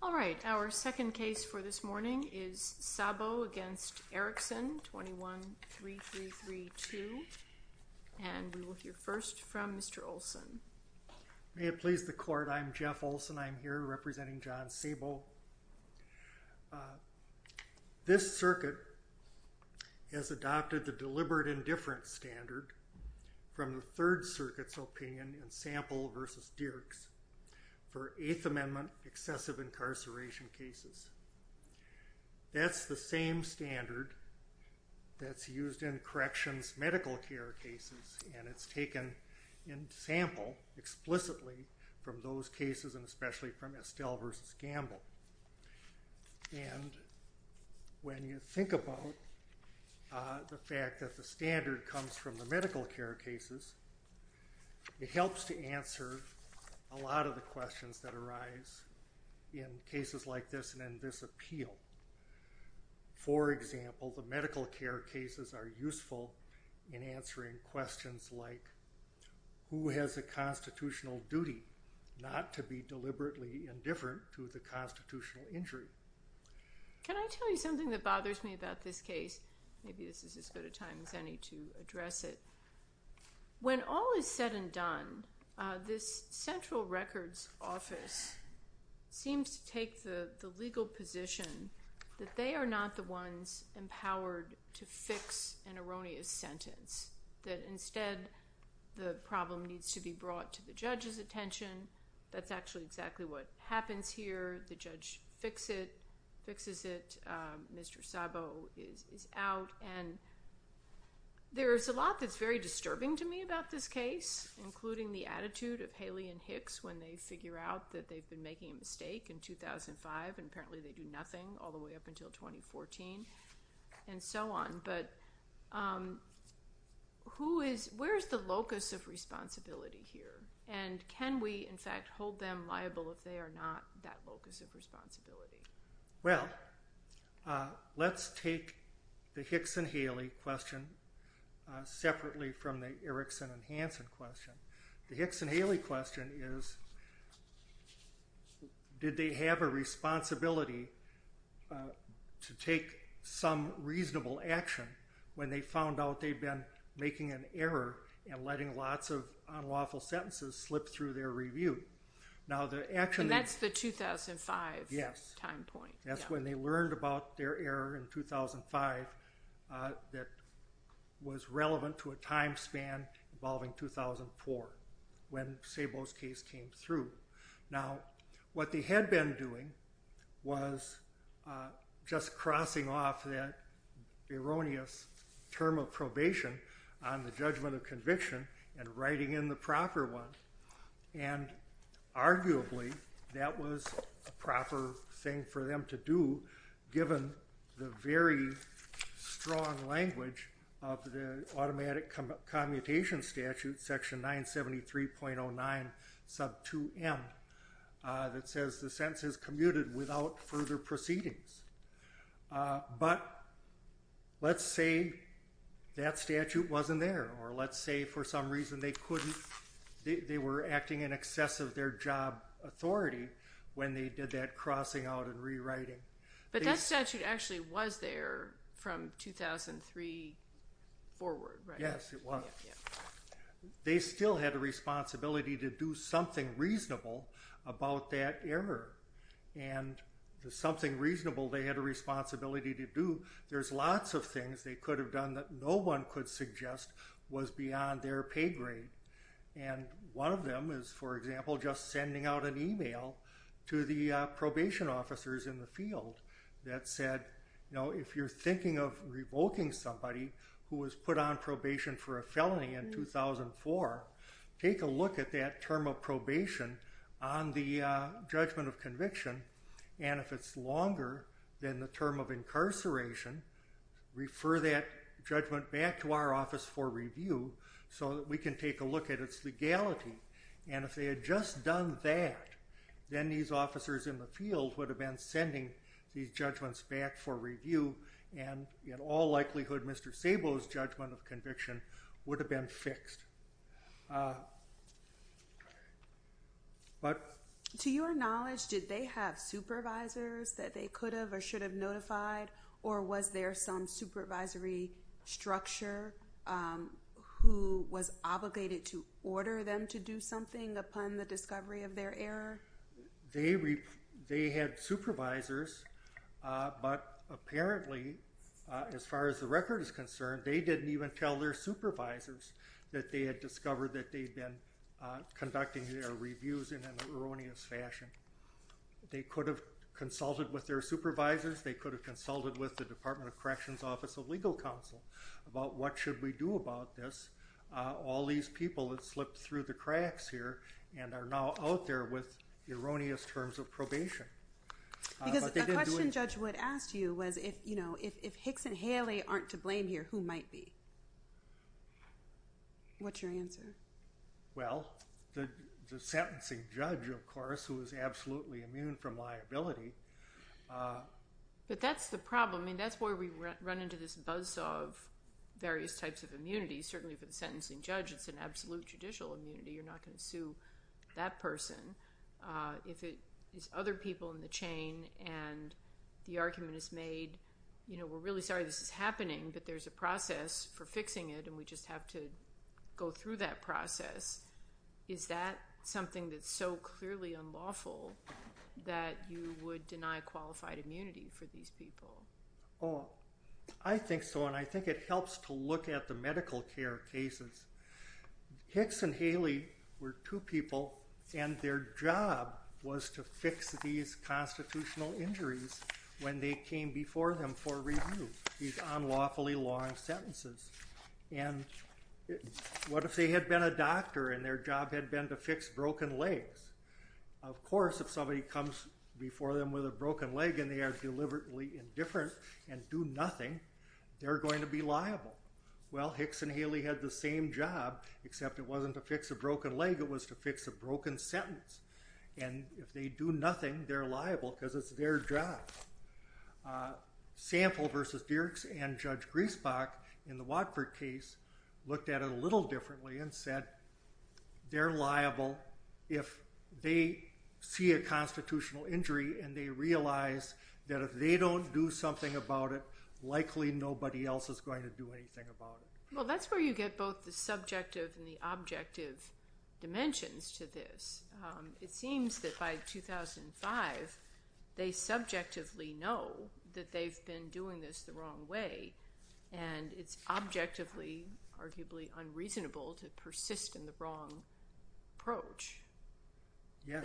All right, our second case for this morning is Sabo v. Erickson, 21-3332. And we will hear first from Mr. Olson. May it please the court, I'm Jeff Olson. I'm here representing John Sabo. This circuit has adopted the deliberate indifference standard from the Third Circuit's opinion in Sample v. Dirks for Eighth Amendment excessive incarceration cases. That's the same standard that's used in corrections medical care cases and it's taken in Sample explicitly from those cases and especially from Estelle v. Gamble. And when you think about the fact that the standard comes from the medical care cases, it helps to answer a lot of the questions that arise in cases like this and in this appeal. For example, the medical care cases are useful in answering questions like, who has a constitutional duty not to be deliberately indifferent to the constitutional injury? Can I tell you something that bothers me about this case? Maybe this is as good a time as any to address it. When all is said and done, this central records office seems to take the legal position that they are not the ones empowered to fix an erroneous sentence, that the problem needs to be brought to the judge's attention. That's actually exactly what happens here. The judge fixes it. Mr. Sabo is out. There's a lot that's very disturbing to me about this case, including the attitude of Haley and Hicks when they figure out that they've been making a mistake in 2005 and apparently they do nothing all the way up until 2014 and so on. But where is the locus of responsibility here? And can we in fact hold them liable if they are not that locus of responsibility? Well, let's take the Hicks and Haley question separately from the Erickson and Hanson question. The Hicks and Haley question is, did they have a responsibility to take some reasonable action when they found out they'd been making an error and letting lots of unlawful sentences slip through their review? That's the 2005 time point. Yes. That's when they learned about their error in 2005 that was relevant to a time span involving 2004 when Sabo's case came through. Now, what they had been doing was just crossing off that erroneous term of probation on the judgment of conviction and writing in the proper one. And arguably, that was a proper thing for them to do given the very strong language of the automatic commutation statute section 973.09 sub 2m that says the sentence is commuted without further proceedings. But let's say that statute wasn't there or let's say for some reason they couldn't, they were acting in excess of their job authority when they did that crossing out and rewriting. But that statute actually was there from 2003 forward, right? Yes, it was. They still had a responsibility to do something reasonable about that error. And the something reasonable they had a responsibility to do, there's lots of things they could have done that no one could suggest was beyond their pay grade. And one of them is, for example, just sending out an email to the probation officers in the field that said, you know, if you're thinking of revoking somebody who was put on probation for a felony in 2004, take a look at that term of probation on the judgment of conviction. And if it's longer than the term of incarceration, refer that judgment back to our office for review so that can take a look at its legality. And if they had just done that, then these officers in the field would have been sending these judgments back for review. And in all likelihood, Mr. Szabo's judgment of conviction would have been fixed. But to your knowledge, did they have supervisors that they could have or should have notified? Or was there some supervisory structure who was obligated to order them to do something upon the discovery of their error? They had supervisors, but apparently, as far as the record is concerned, they didn't even tell their supervisors that they had discovered that they'd been conducting their reviews in an erroneous fashion. They could have consulted with their supervisors. They could have consulted with the Department of Corrections Office of Legal Counsel about what should we do about this. All these people that slipped through the cracks here and are now out there with erroneous terms of probation. Because a question Judge Wood asked you was if Hicks and Haley aren't to blame here, who might be? What's your answer? Well, the sentencing judge, of course, who is absolutely immune from liability. But that's the problem. That's where we run into this buzz of various types of immunity. Certainly for the sentencing judge, it's an absolute judicial immunity. You're not going to sue that person. If it is other people in the chain and the argument is made, we're really sorry this is happening, but there's a process for fixing it and we just have to unlawful that you would deny qualified immunity for these people. Oh, I think so and I think it helps to look at the medical care cases. Hicks and Haley were two people and their job was to fix these constitutional injuries when they came before them for review, these unlawfully long sentences. And what if they had been a doctor and their job had been to fix broken legs? Of course, if somebody comes before them with a broken leg and they are deliberately indifferent and do nothing, they're going to be liable. Well, Hicks and Haley had the same job, except it wasn't to fix a broken leg, it was to fix a broken sentence. And if they do nothing, they're liable because it's their job. Sample versus Dirks and Judge Griesbach in the Watford case looked at it a little differently and said they're liable if they see a constitutional injury and they realize that if they don't do something about it, likely nobody else is going to do anything about it. Well, that's where you get both the subjective and the objective dimensions to this. It seems that by 2005, they subjectively know that they've been doing this the wrong way and it's objectively, arguably unreasonable to persist in the wrong approach. Yes.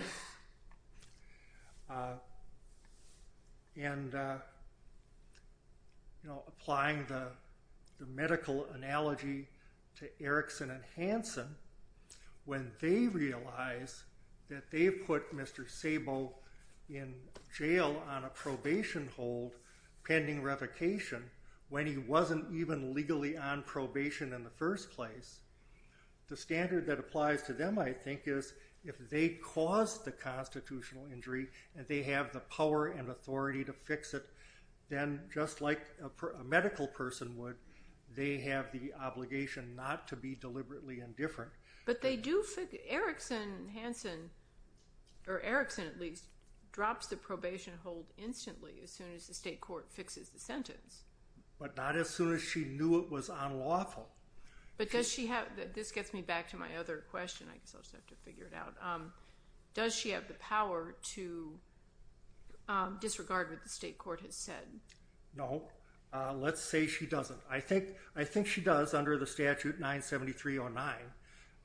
And, you know, applying the medical analogy to Erickson and Hanson, when they realize that they've put Mr. Sabo in jail on a probation hold pending revocation when he wasn't even legally on probation in the first place, the standard that applies to them, I think, is if they cause the constitutional injury and they have the power and authority to fix it, then just like a medical person would, they have the obligation not to be deliberately indifferent. But they do figure, Erickson and Hanson, or Erickson at least, drops the probation hold instantly as soon as the state court fixes the sentence. But not as soon as she knew it was unlawful. But does she have, this gets me back to my other question, I guess I'll just have to figure it out, does she have the power to disregard what the state court has said? No. Let's say she doesn't. I think she does under the statute 97309.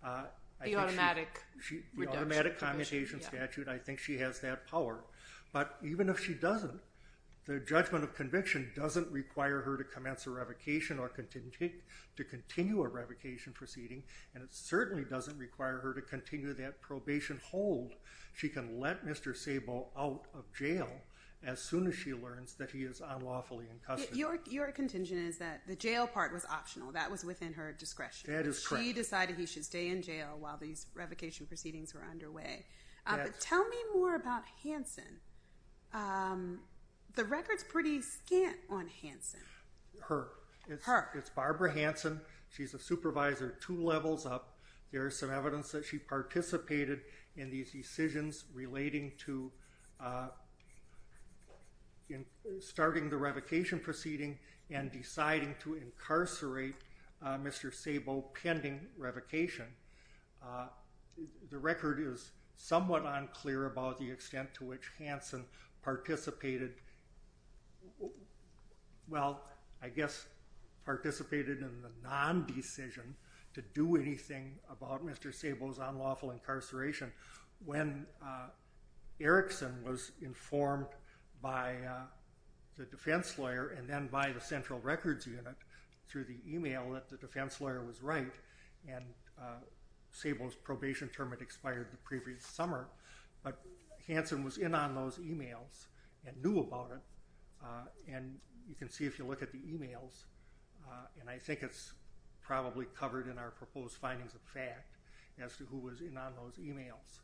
The automatic reduction. The automatic commutation statute, I think she has that power. But even if she doesn't, the judgment of conviction doesn't require her to commence a revocation or to continue a revocation proceeding, and it certainly doesn't require her to continue that probation hold. She can let Mr. Sabo out of jail as soon as she learns that he is unlawfully incustomed. Your contingent is that the jail part was optional. That was within her discretion. That is correct. She decided he should stay in jail while these revocation proceedings were underway. But tell me more about Hanson. The record's pretty scant on Hanson. Her. It's Barbara Hanson. She's a supervisor two levels up. There's some evidence that she participated in these decisions relating to starting the revocation proceeding and deciding to incarcerate Mr. Sabo pending revocation. The record is somewhat unclear about the extent to which Hanson participated. Well, I guess participated in the non-decision to do anything about Mr. Sabo's unlawful incarceration when Erickson was informed by the defense lawyer and then by the central records unit through the email that the defense lawyer was right, and Sabo's probation term had expired the previous summer. But Hanson was in on those emails and knew about it, and you can see if you look at the emails, and I think it's probably covered in our proposed findings of fact as to was in on those emails.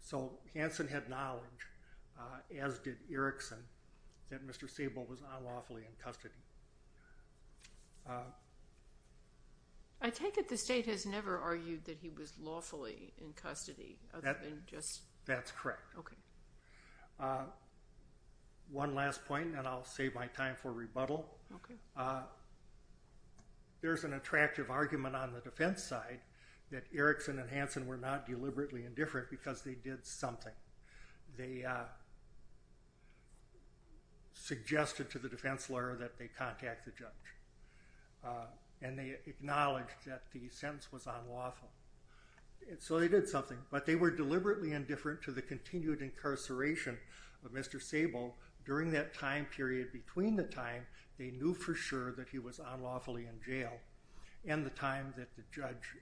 So Hanson had knowledge, as did Erickson, that Mr. Sabo was unlawfully in custody. I take it the state has never argued that he was lawfully in custody. That's correct. One last point, and I'll save my time for rebuttal. There's an attractive argument on the defense side that Erickson and Hanson were not deliberately indifferent because they did something. They suggested to the defense lawyer that they contact the judge, and they acknowledged that the sentence was unlawful. So they did something, but they were deliberately indifferent to the continued incarceration of Mr. Sabo during that time period. Between the time they knew for sure that he was unlawfully in jail and the time that the judge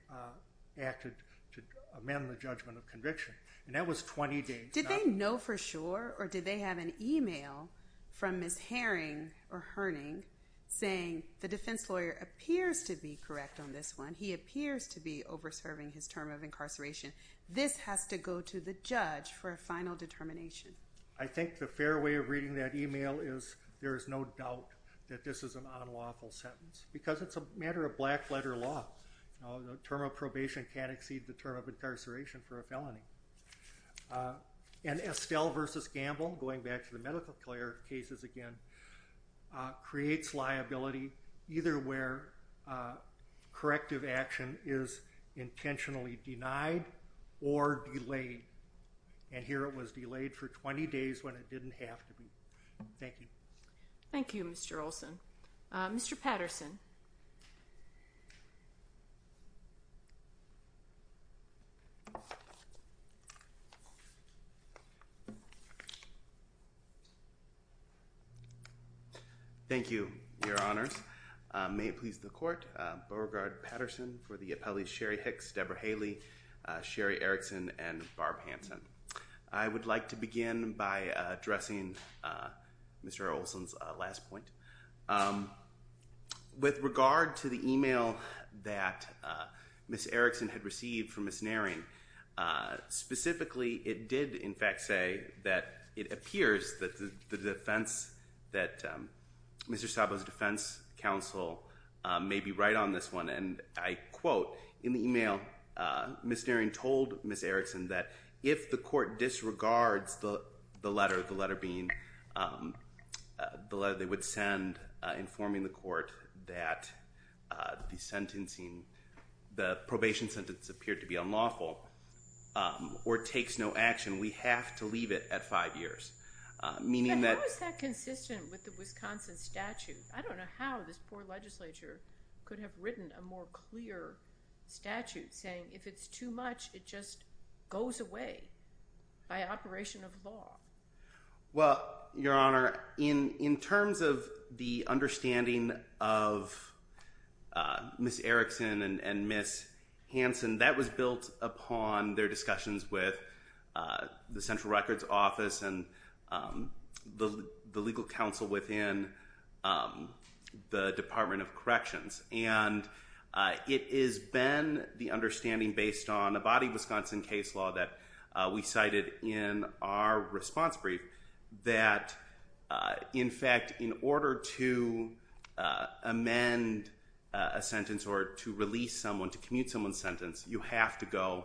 acted to amend the judgment of conviction, and that was 20 days. Did they know for sure, or did they have an email from Ms. Herring saying the defense lawyer appears to be correct on this one? He appears to be over serving his term of incarceration. This has to go to the judge for a final determination. I think the fair way of reading that email is there is no doubt that this is an unlawful sentence because it's a matter of black letter law. The term of probation can't exceed the term of incarceration for a felony. Estelle v. Gamble, going back to the medical lawyer cases again, creates liability either where corrective action is intentionally denied or delayed. And here it was delayed for 20 days when it didn't have to be. Thank you. Thank you, Mr. Olson. Mr. Patterson. Thank you, your honors. May it please the court, Beauregard Patterson for the appellee Sherry Hicks, Debra Haley, Sherry Erickson, and Barb Hanson. I would like to begin by addressing Mr. Olson's last point. With regard to the email that Ms. Erickson had received from Ms. Herring, specifically it did in fact say that it appears that the defense, that Mr. Szabo's defense counsel may be right on this one. And I quote, in the email, Ms. Herring told Ms. Erickson that if the court disregards the letter, the letter being the letter they would send informing the court that the sentencing, the probation sentence appeared to be unlawful or takes no action, we have to leave it at five years. Meaning that... How is that consistent with the Wisconsin statute? I don't know how this poor legislature could have written a more clear statute saying if it's too much, it just goes away by operation of law. Well, your honor, in terms of the understanding of Ms. Erickson and Ms. Hanson, that was built upon their discussions with the Central Records Office and the legal counsel within the Department of Corrections. And it has been the understanding based on a body Wisconsin case law that we cited in our response brief that in fact, in order to amend a sentence or to release someone, to commute someone's sentence, you have to go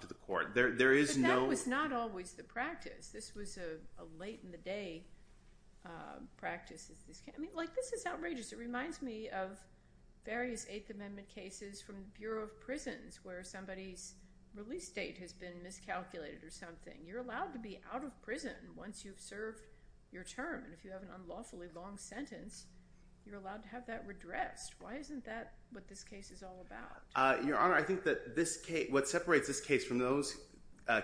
to the court. There is no... But that was not always the practice. This was a late in the day practice. This is outrageous. It reminds me of various Eighth Amendment cases from the Bureau of Prisons where somebody's release date has been miscalculated or something. You're allowed to be out of prison once you've served your term. And if you have an unlawfully long sentence, you're allowed to have that redressed. Why isn't that what this case is all about? Your honor, I think that what separates this case from those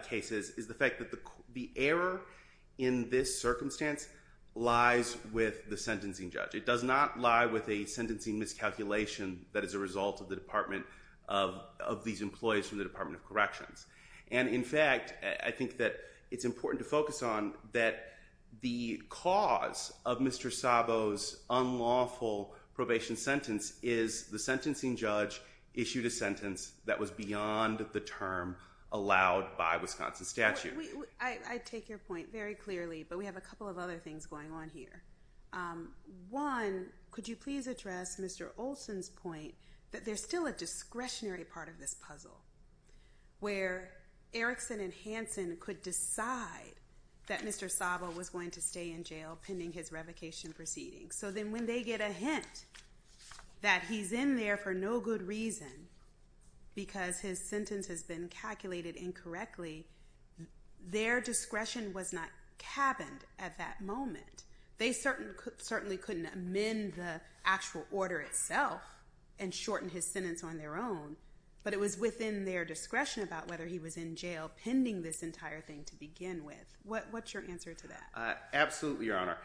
cases is the fact that the error in this circumstance lies with the sentencing judge. It does not lie with a sentencing miscalculation that is a result of the Department of... Of these employees from the Department of Corrections. And in fact, I think that it's important to focus on that the cause of Mr. Olson's release is that the sentencing judge issued a sentence that was beyond the term allowed by Wisconsin statute. I take your point very clearly, but we have a couple of other things going on here. One, could you please address Mr. Olson's point that there's still a discretionary part of this puzzle where Erickson and Hanson could decide that Mr. Saba was going to stay in jail pending his revocation proceedings. So then when they get a hint that he's in there for no good reason because his sentence has been calculated incorrectly, their discretion was not cabined at that moment. They certainly couldn't amend the actual order itself and shorten his sentence on their own, but it was within their discretion about whether he was in jail pending this entire thing to begin with. What's your answer to that? Absolutely, Your Honor.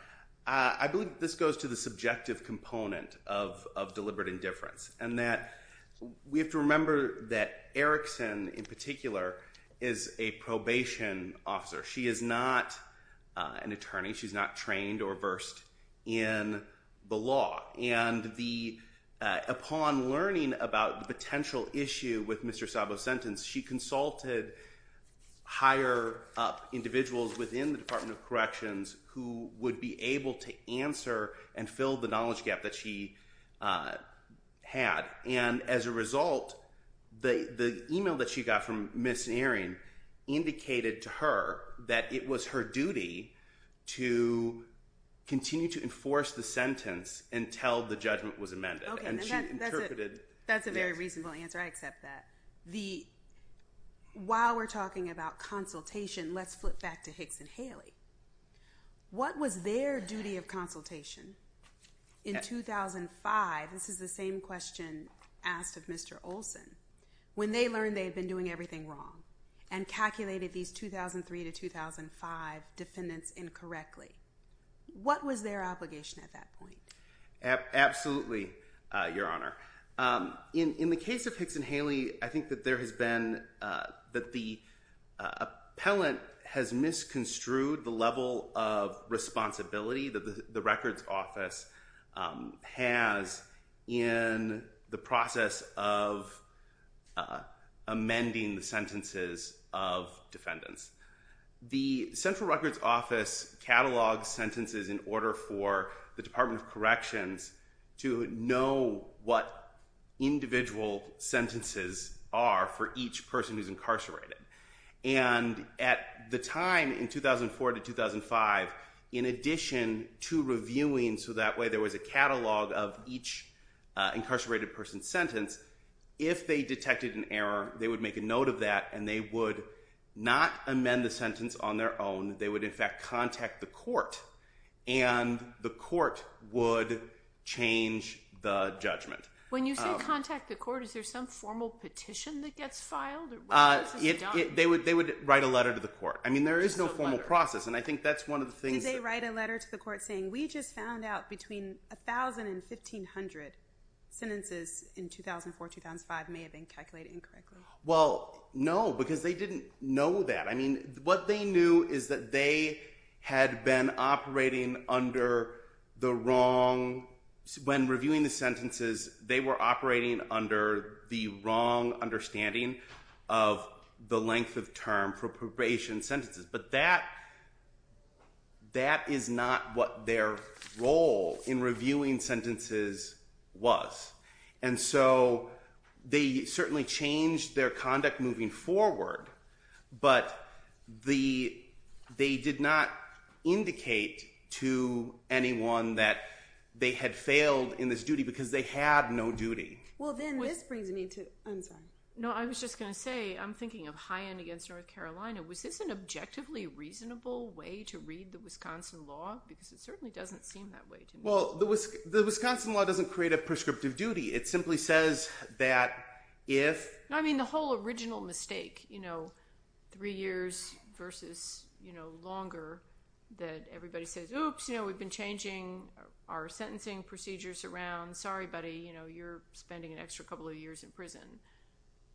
I believe this goes to the subjective component of deliberate indifference and that we have to remember that Erickson in particular is a probation officer. She is not an attorney. She's not trained or versed in the law. And upon learning about the potential issue with Mr. Saba's sentence, she consulted higher up individuals within the Department of Corrections who would be able to answer and fill the knowledge gap that she had. And as a result, the email that she got from Ms. Ehring indicated to her that it was her duty to continue to enforce the sentence until the judgment was amended. Okay, that's a very reasonable answer. I accept that. While we're talking about consultation, let's flip back to Hicks and Haley. What was their duty of consultation in 2005? This is the same question asked of Mr. Olson. When they learned they had been doing everything wrong and calculated these 2003 to 2005 defendants incorrectly, what was their obligation at that time? In the case of Hicks and Haley, I think that the appellant has misconstrued the level of responsibility that the Records Office has in the process of amending the sentences of defendants. The Central Records Office catalogs sentences in order for the Department of Corrections to know what individual sentences are for each person who's incarcerated. And at the time in 2004 to 2005, in addition to reviewing so that way there was a catalog of each incarcerated person's sentence, if they detected an error, they would make a note of that and they would not amend the sentence on their own. They would in fact contact the court and the court would change the judgment. When you say contact the court, is there some formal petition that gets filed? They would write a letter to the court. I mean there is no formal process and I think that's one of the things... Did they write a letter to the court saying, we just found out between 1,000 and 1,500 sentences in 2004-2005 may have been calculated incorrectly? Well, no, because they didn't know that. I mean, what they knew is that they had been operating under the wrong... When reviewing the sentences, they were operating under the wrong understanding of the length of term for probation sentences. But that is not what their role in reviewing sentences was. And so they certainly changed their conduct moving forward, but they did not indicate to anyone that they had failed in this duty because they had no duty. Well, then this brings me to... I'm sorry. No, I was just going to say, I'm thinking of high end against North Carolina. Was this an objectively reasonable way to read the Wisconsin law? Because it certainly doesn't seem that way to me. Well, the Wisconsin law doesn't create a prescriptive duty. It simply says that if... The whole original mistake, three years versus longer, that everybody says, oops, we've been changing our sentencing procedures around. Sorry, buddy, you're spending an extra couple of years in prison.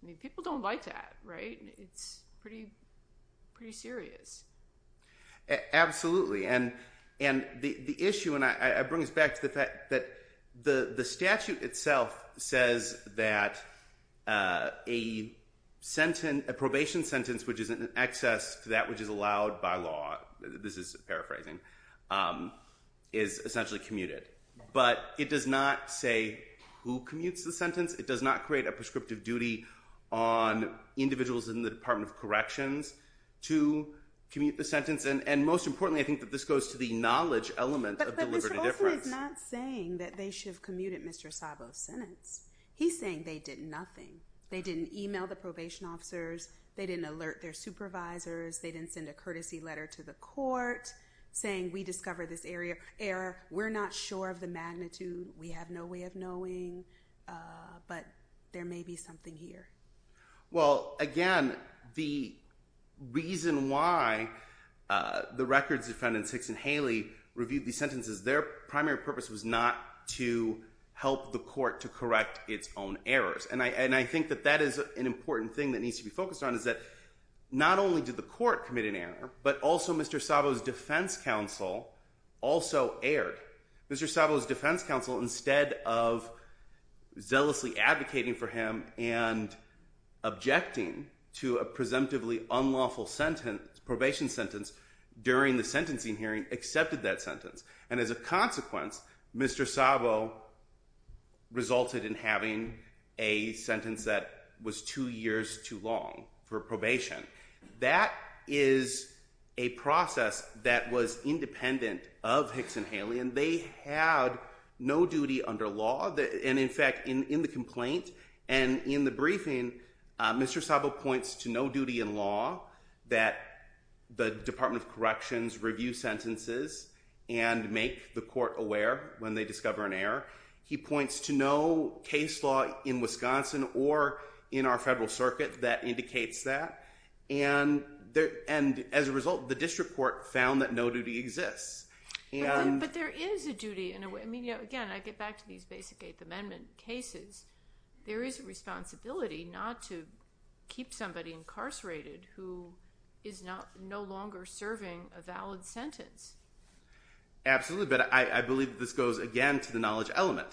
I mean, people don't like that, right? It's pretty serious. Absolutely. And the issue, and I bring this back to the fact that the statute itself says that a sentence, a probation sentence, which is an excess to that which is allowed by law, this is paraphrasing, is essentially commuted. But it does not say who commutes the sentence. It does not create a prescriptive duty on individuals in the Department of Corrections to commute the sentence. And most importantly, I think that this goes to the knowledge element of deliberate indifference. But Mr. Olson is not saying that they should have commuted Mr. Szabo's sentence. He's saying they did nothing. They didn't email the probation officers. They didn't alert their supervisors. They didn't send a courtesy letter to the court saying, we discovered this error. We're not sure of the magnitude. We have no way of knowing. But there may be something here. Well, again, the reason why the records defendants, Hicks and Haley, reviewed these sentences, their primary purpose was not to help the court to correct its own errors. And I think that that is an important thing that needs to be focused on, is that not only did the court commit an error, but also Mr. Szabo's defense counsel also erred. Mr. Szabo's defense counsel, instead of zealously advocating for him and objecting to a presumptively unlawful sentence, probation sentence, during the sentencing hearing, accepted that sentence. And as a consequence, Mr. Szabo resulted in having a sentence that was two years too long for probation. That is a process that was independent of Hicks and Haley, and they had no duty under law. And in fact, in the complaint and in the briefing, Mr. Szabo points to no duty in law, that the Department of Corrections review sentences and make the court aware when they discover an error. He points to no case law in Wisconsin or in our federal circuit that indicates that. And as a result, the district court found that no duty exists. But there is a duty in a way. I mean, again, I get back to these basic Eighth Amendment cases. There is a responsibility not to keep somebody incarcerated who is no longer serving a valid sentence. Absolutely. But I believe this goes again to the knowledge element.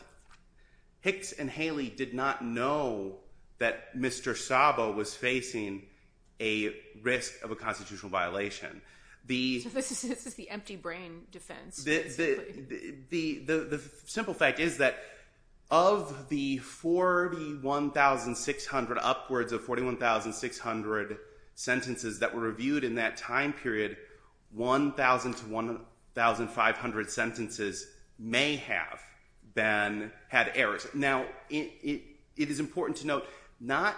Hicks and Haley did not know that Mr. Szabo was facing a risk of a constitutional violation. So this is the empty brain defense. The simple fact is that of the 41,600 upwards of 41,600 sentences that were reviewed in that time period, 1,000 to 1,500 sentences may have had errors. Now, it is important to note, not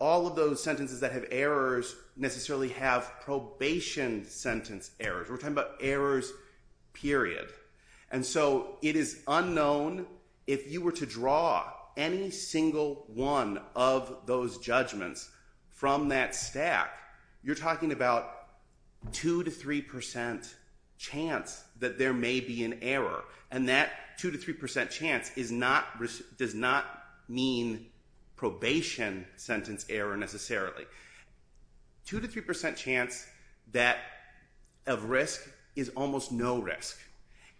all of those sentences that have errors necessarily have probation sentence errors. We're talking about errors, period. And so it is unknown if you were to draw any single one of those judgments from that stack. You're talking about 2% to 3% chance that there may be an error. And that 2% to 3% chance does not mean probation sentence error necessarily. 2% to 3% chance of risk is almost no risk.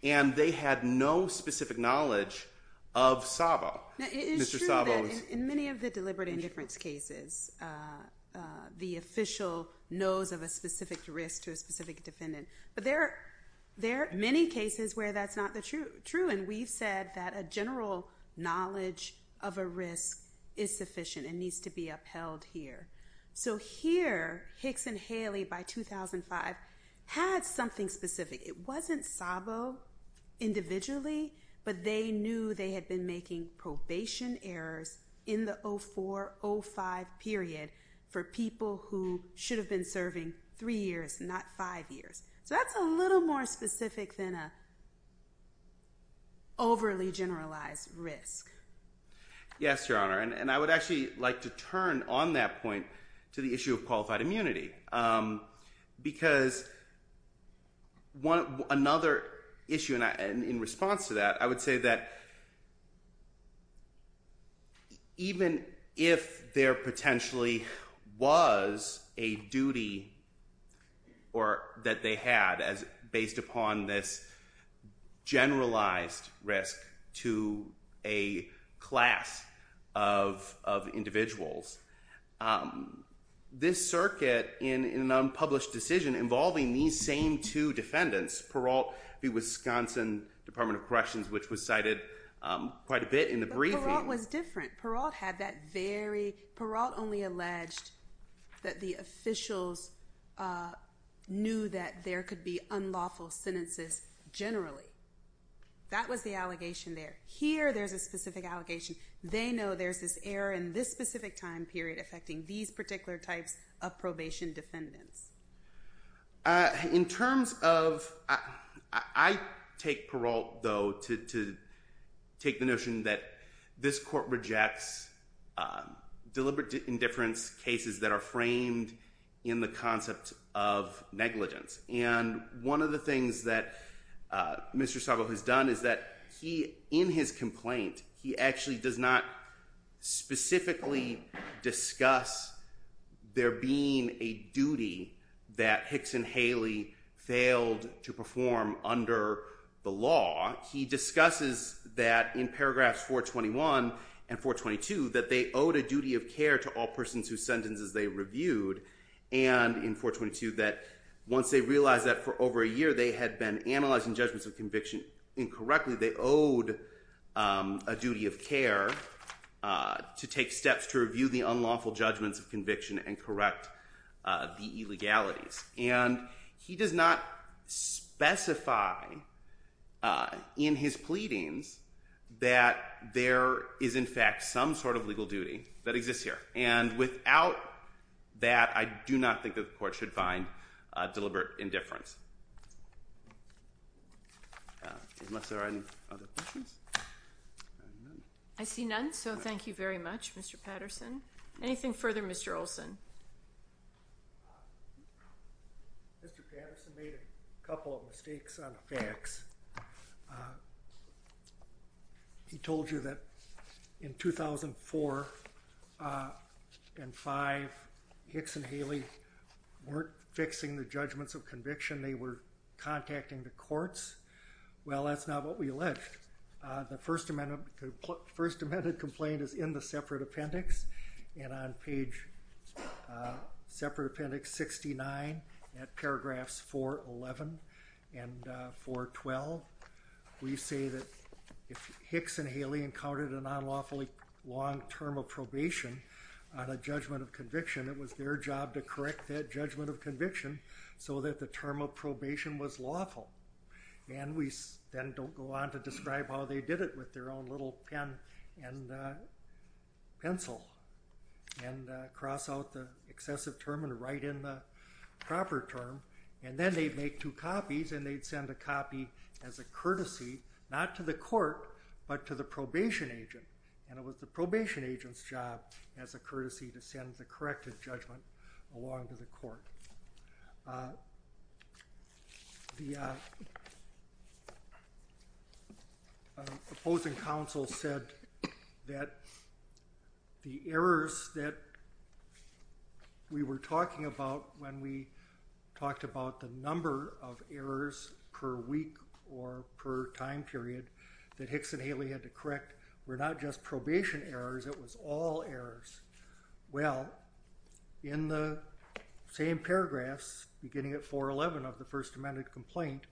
And they had no specific knowledge of Szabo. Now, it is true that in many of the deliberate indifference cases, the official knows of a specific risk to a specific defendant. But there are many cases where that's not true. And we've said that a general knowledge of a risk is sufficient and needs to be upheld here. So here, Hicks and Haley by 2005 had something specific. It wasn't Szabo individually, but they knew they had been making probation errors in the 04-05 period for people who should have been serving three years, not five years. So that's a little more to turn on that point to the issue of qualified immunity. Because another issue in response to that, I would say that even if there potentially was a duty that they had based upon this circuit in an unpublished decision involving these same two defendants, Peralt v. Wisconsin Department of Corrections, which was cited quite a bit in the briefing. But Peralt was different. Peralt only alleged that the officials knew that there could be unlawful sentences generally. That was the allegation there. Here, there's a specific time period affecting these particular types of probation defendants. In terms of, I take Peralt, though, to take the notion that this court rejects deliberate indifference cases that are framed in the concept of negligence. And one of the things that Mr. Szabo has done is that he, in his complaint, he actually does not specifically discuss there being a duty that Hicks and Haley failed to perform under the law. He discusses that in paragraphs 421 and 422, that they owed a duty of care to all persons whose sentences they had been analyzing judgments of conviction incorrectly. They owed a duty of care to take steps to review the unlawful judgments of conviction and correct the illegalities. And he does not specify in his pleadings that there is, in fact, some sort of legal duty that exists here. And without that, I do not think that the court should find deliberate indifference. Unless there are any other questions? I see none, so thank you very much, Mr. Patterson. Anything further, Mr. Olson? Mr. Patterson made a couple of mistakes on the facts. He told you that in 2004 and 5, Hicks and Haley weren't fixing the judgments of conviction. They were contacting the courts. Well, that's not what we alleged. The First Amendment complaint is in the separate appendix, and on page, separate appendix 69, at paragraphs 411 and 412, we say if Hicks and Haley encountered an unlawfully long term of probation on a judgment of conviction, it was their job to correct that judgment of conviction so that the term of probation was lawful. And we then don't go on to describe how they did it with their own little pen and pencil and cross out the excessive term and write in the proper term. And then they'd make two copies, and they'd send a copy as a courtesy, not to the court, but to the probation agent, and it was the probation agent's job as a courtesy to send the corrected judgment along to the court. The opposing counsel said that the errors that we were talking about when we were talking about errors per week or per time period that Hicks and Haley had to correct were not just probation errors, it was all errors. Well, in the same paragraphs, beginning at 411 of the First Amendment complaint,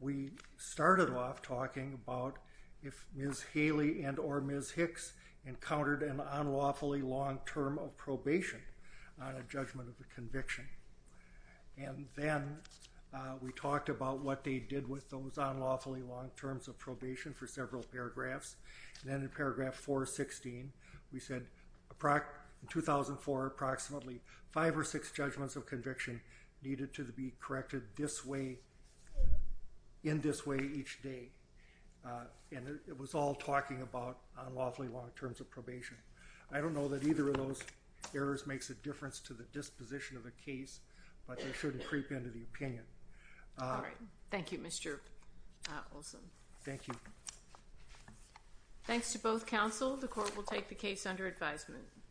we started off talking about if Ms. Haley and or Ms. Hicks encountered an unlawfully long term of probation on a judgment of the conviction. And then we talked about what they did with those unlawfully long terms of probation for several paragraphs. And then in paragraph 416, we said, in 2004, approximately five or six judgments of conviction needed to be corrected in this way each day. And it was all talking about unlawfully long terms of probation. I don't know that either of those errors makes a position of the case, but they shouldn't creep into the opinion. All right. Thank you, Mr. Olson. Thank you. Thanks to both counsel. The court will take the case under advisement.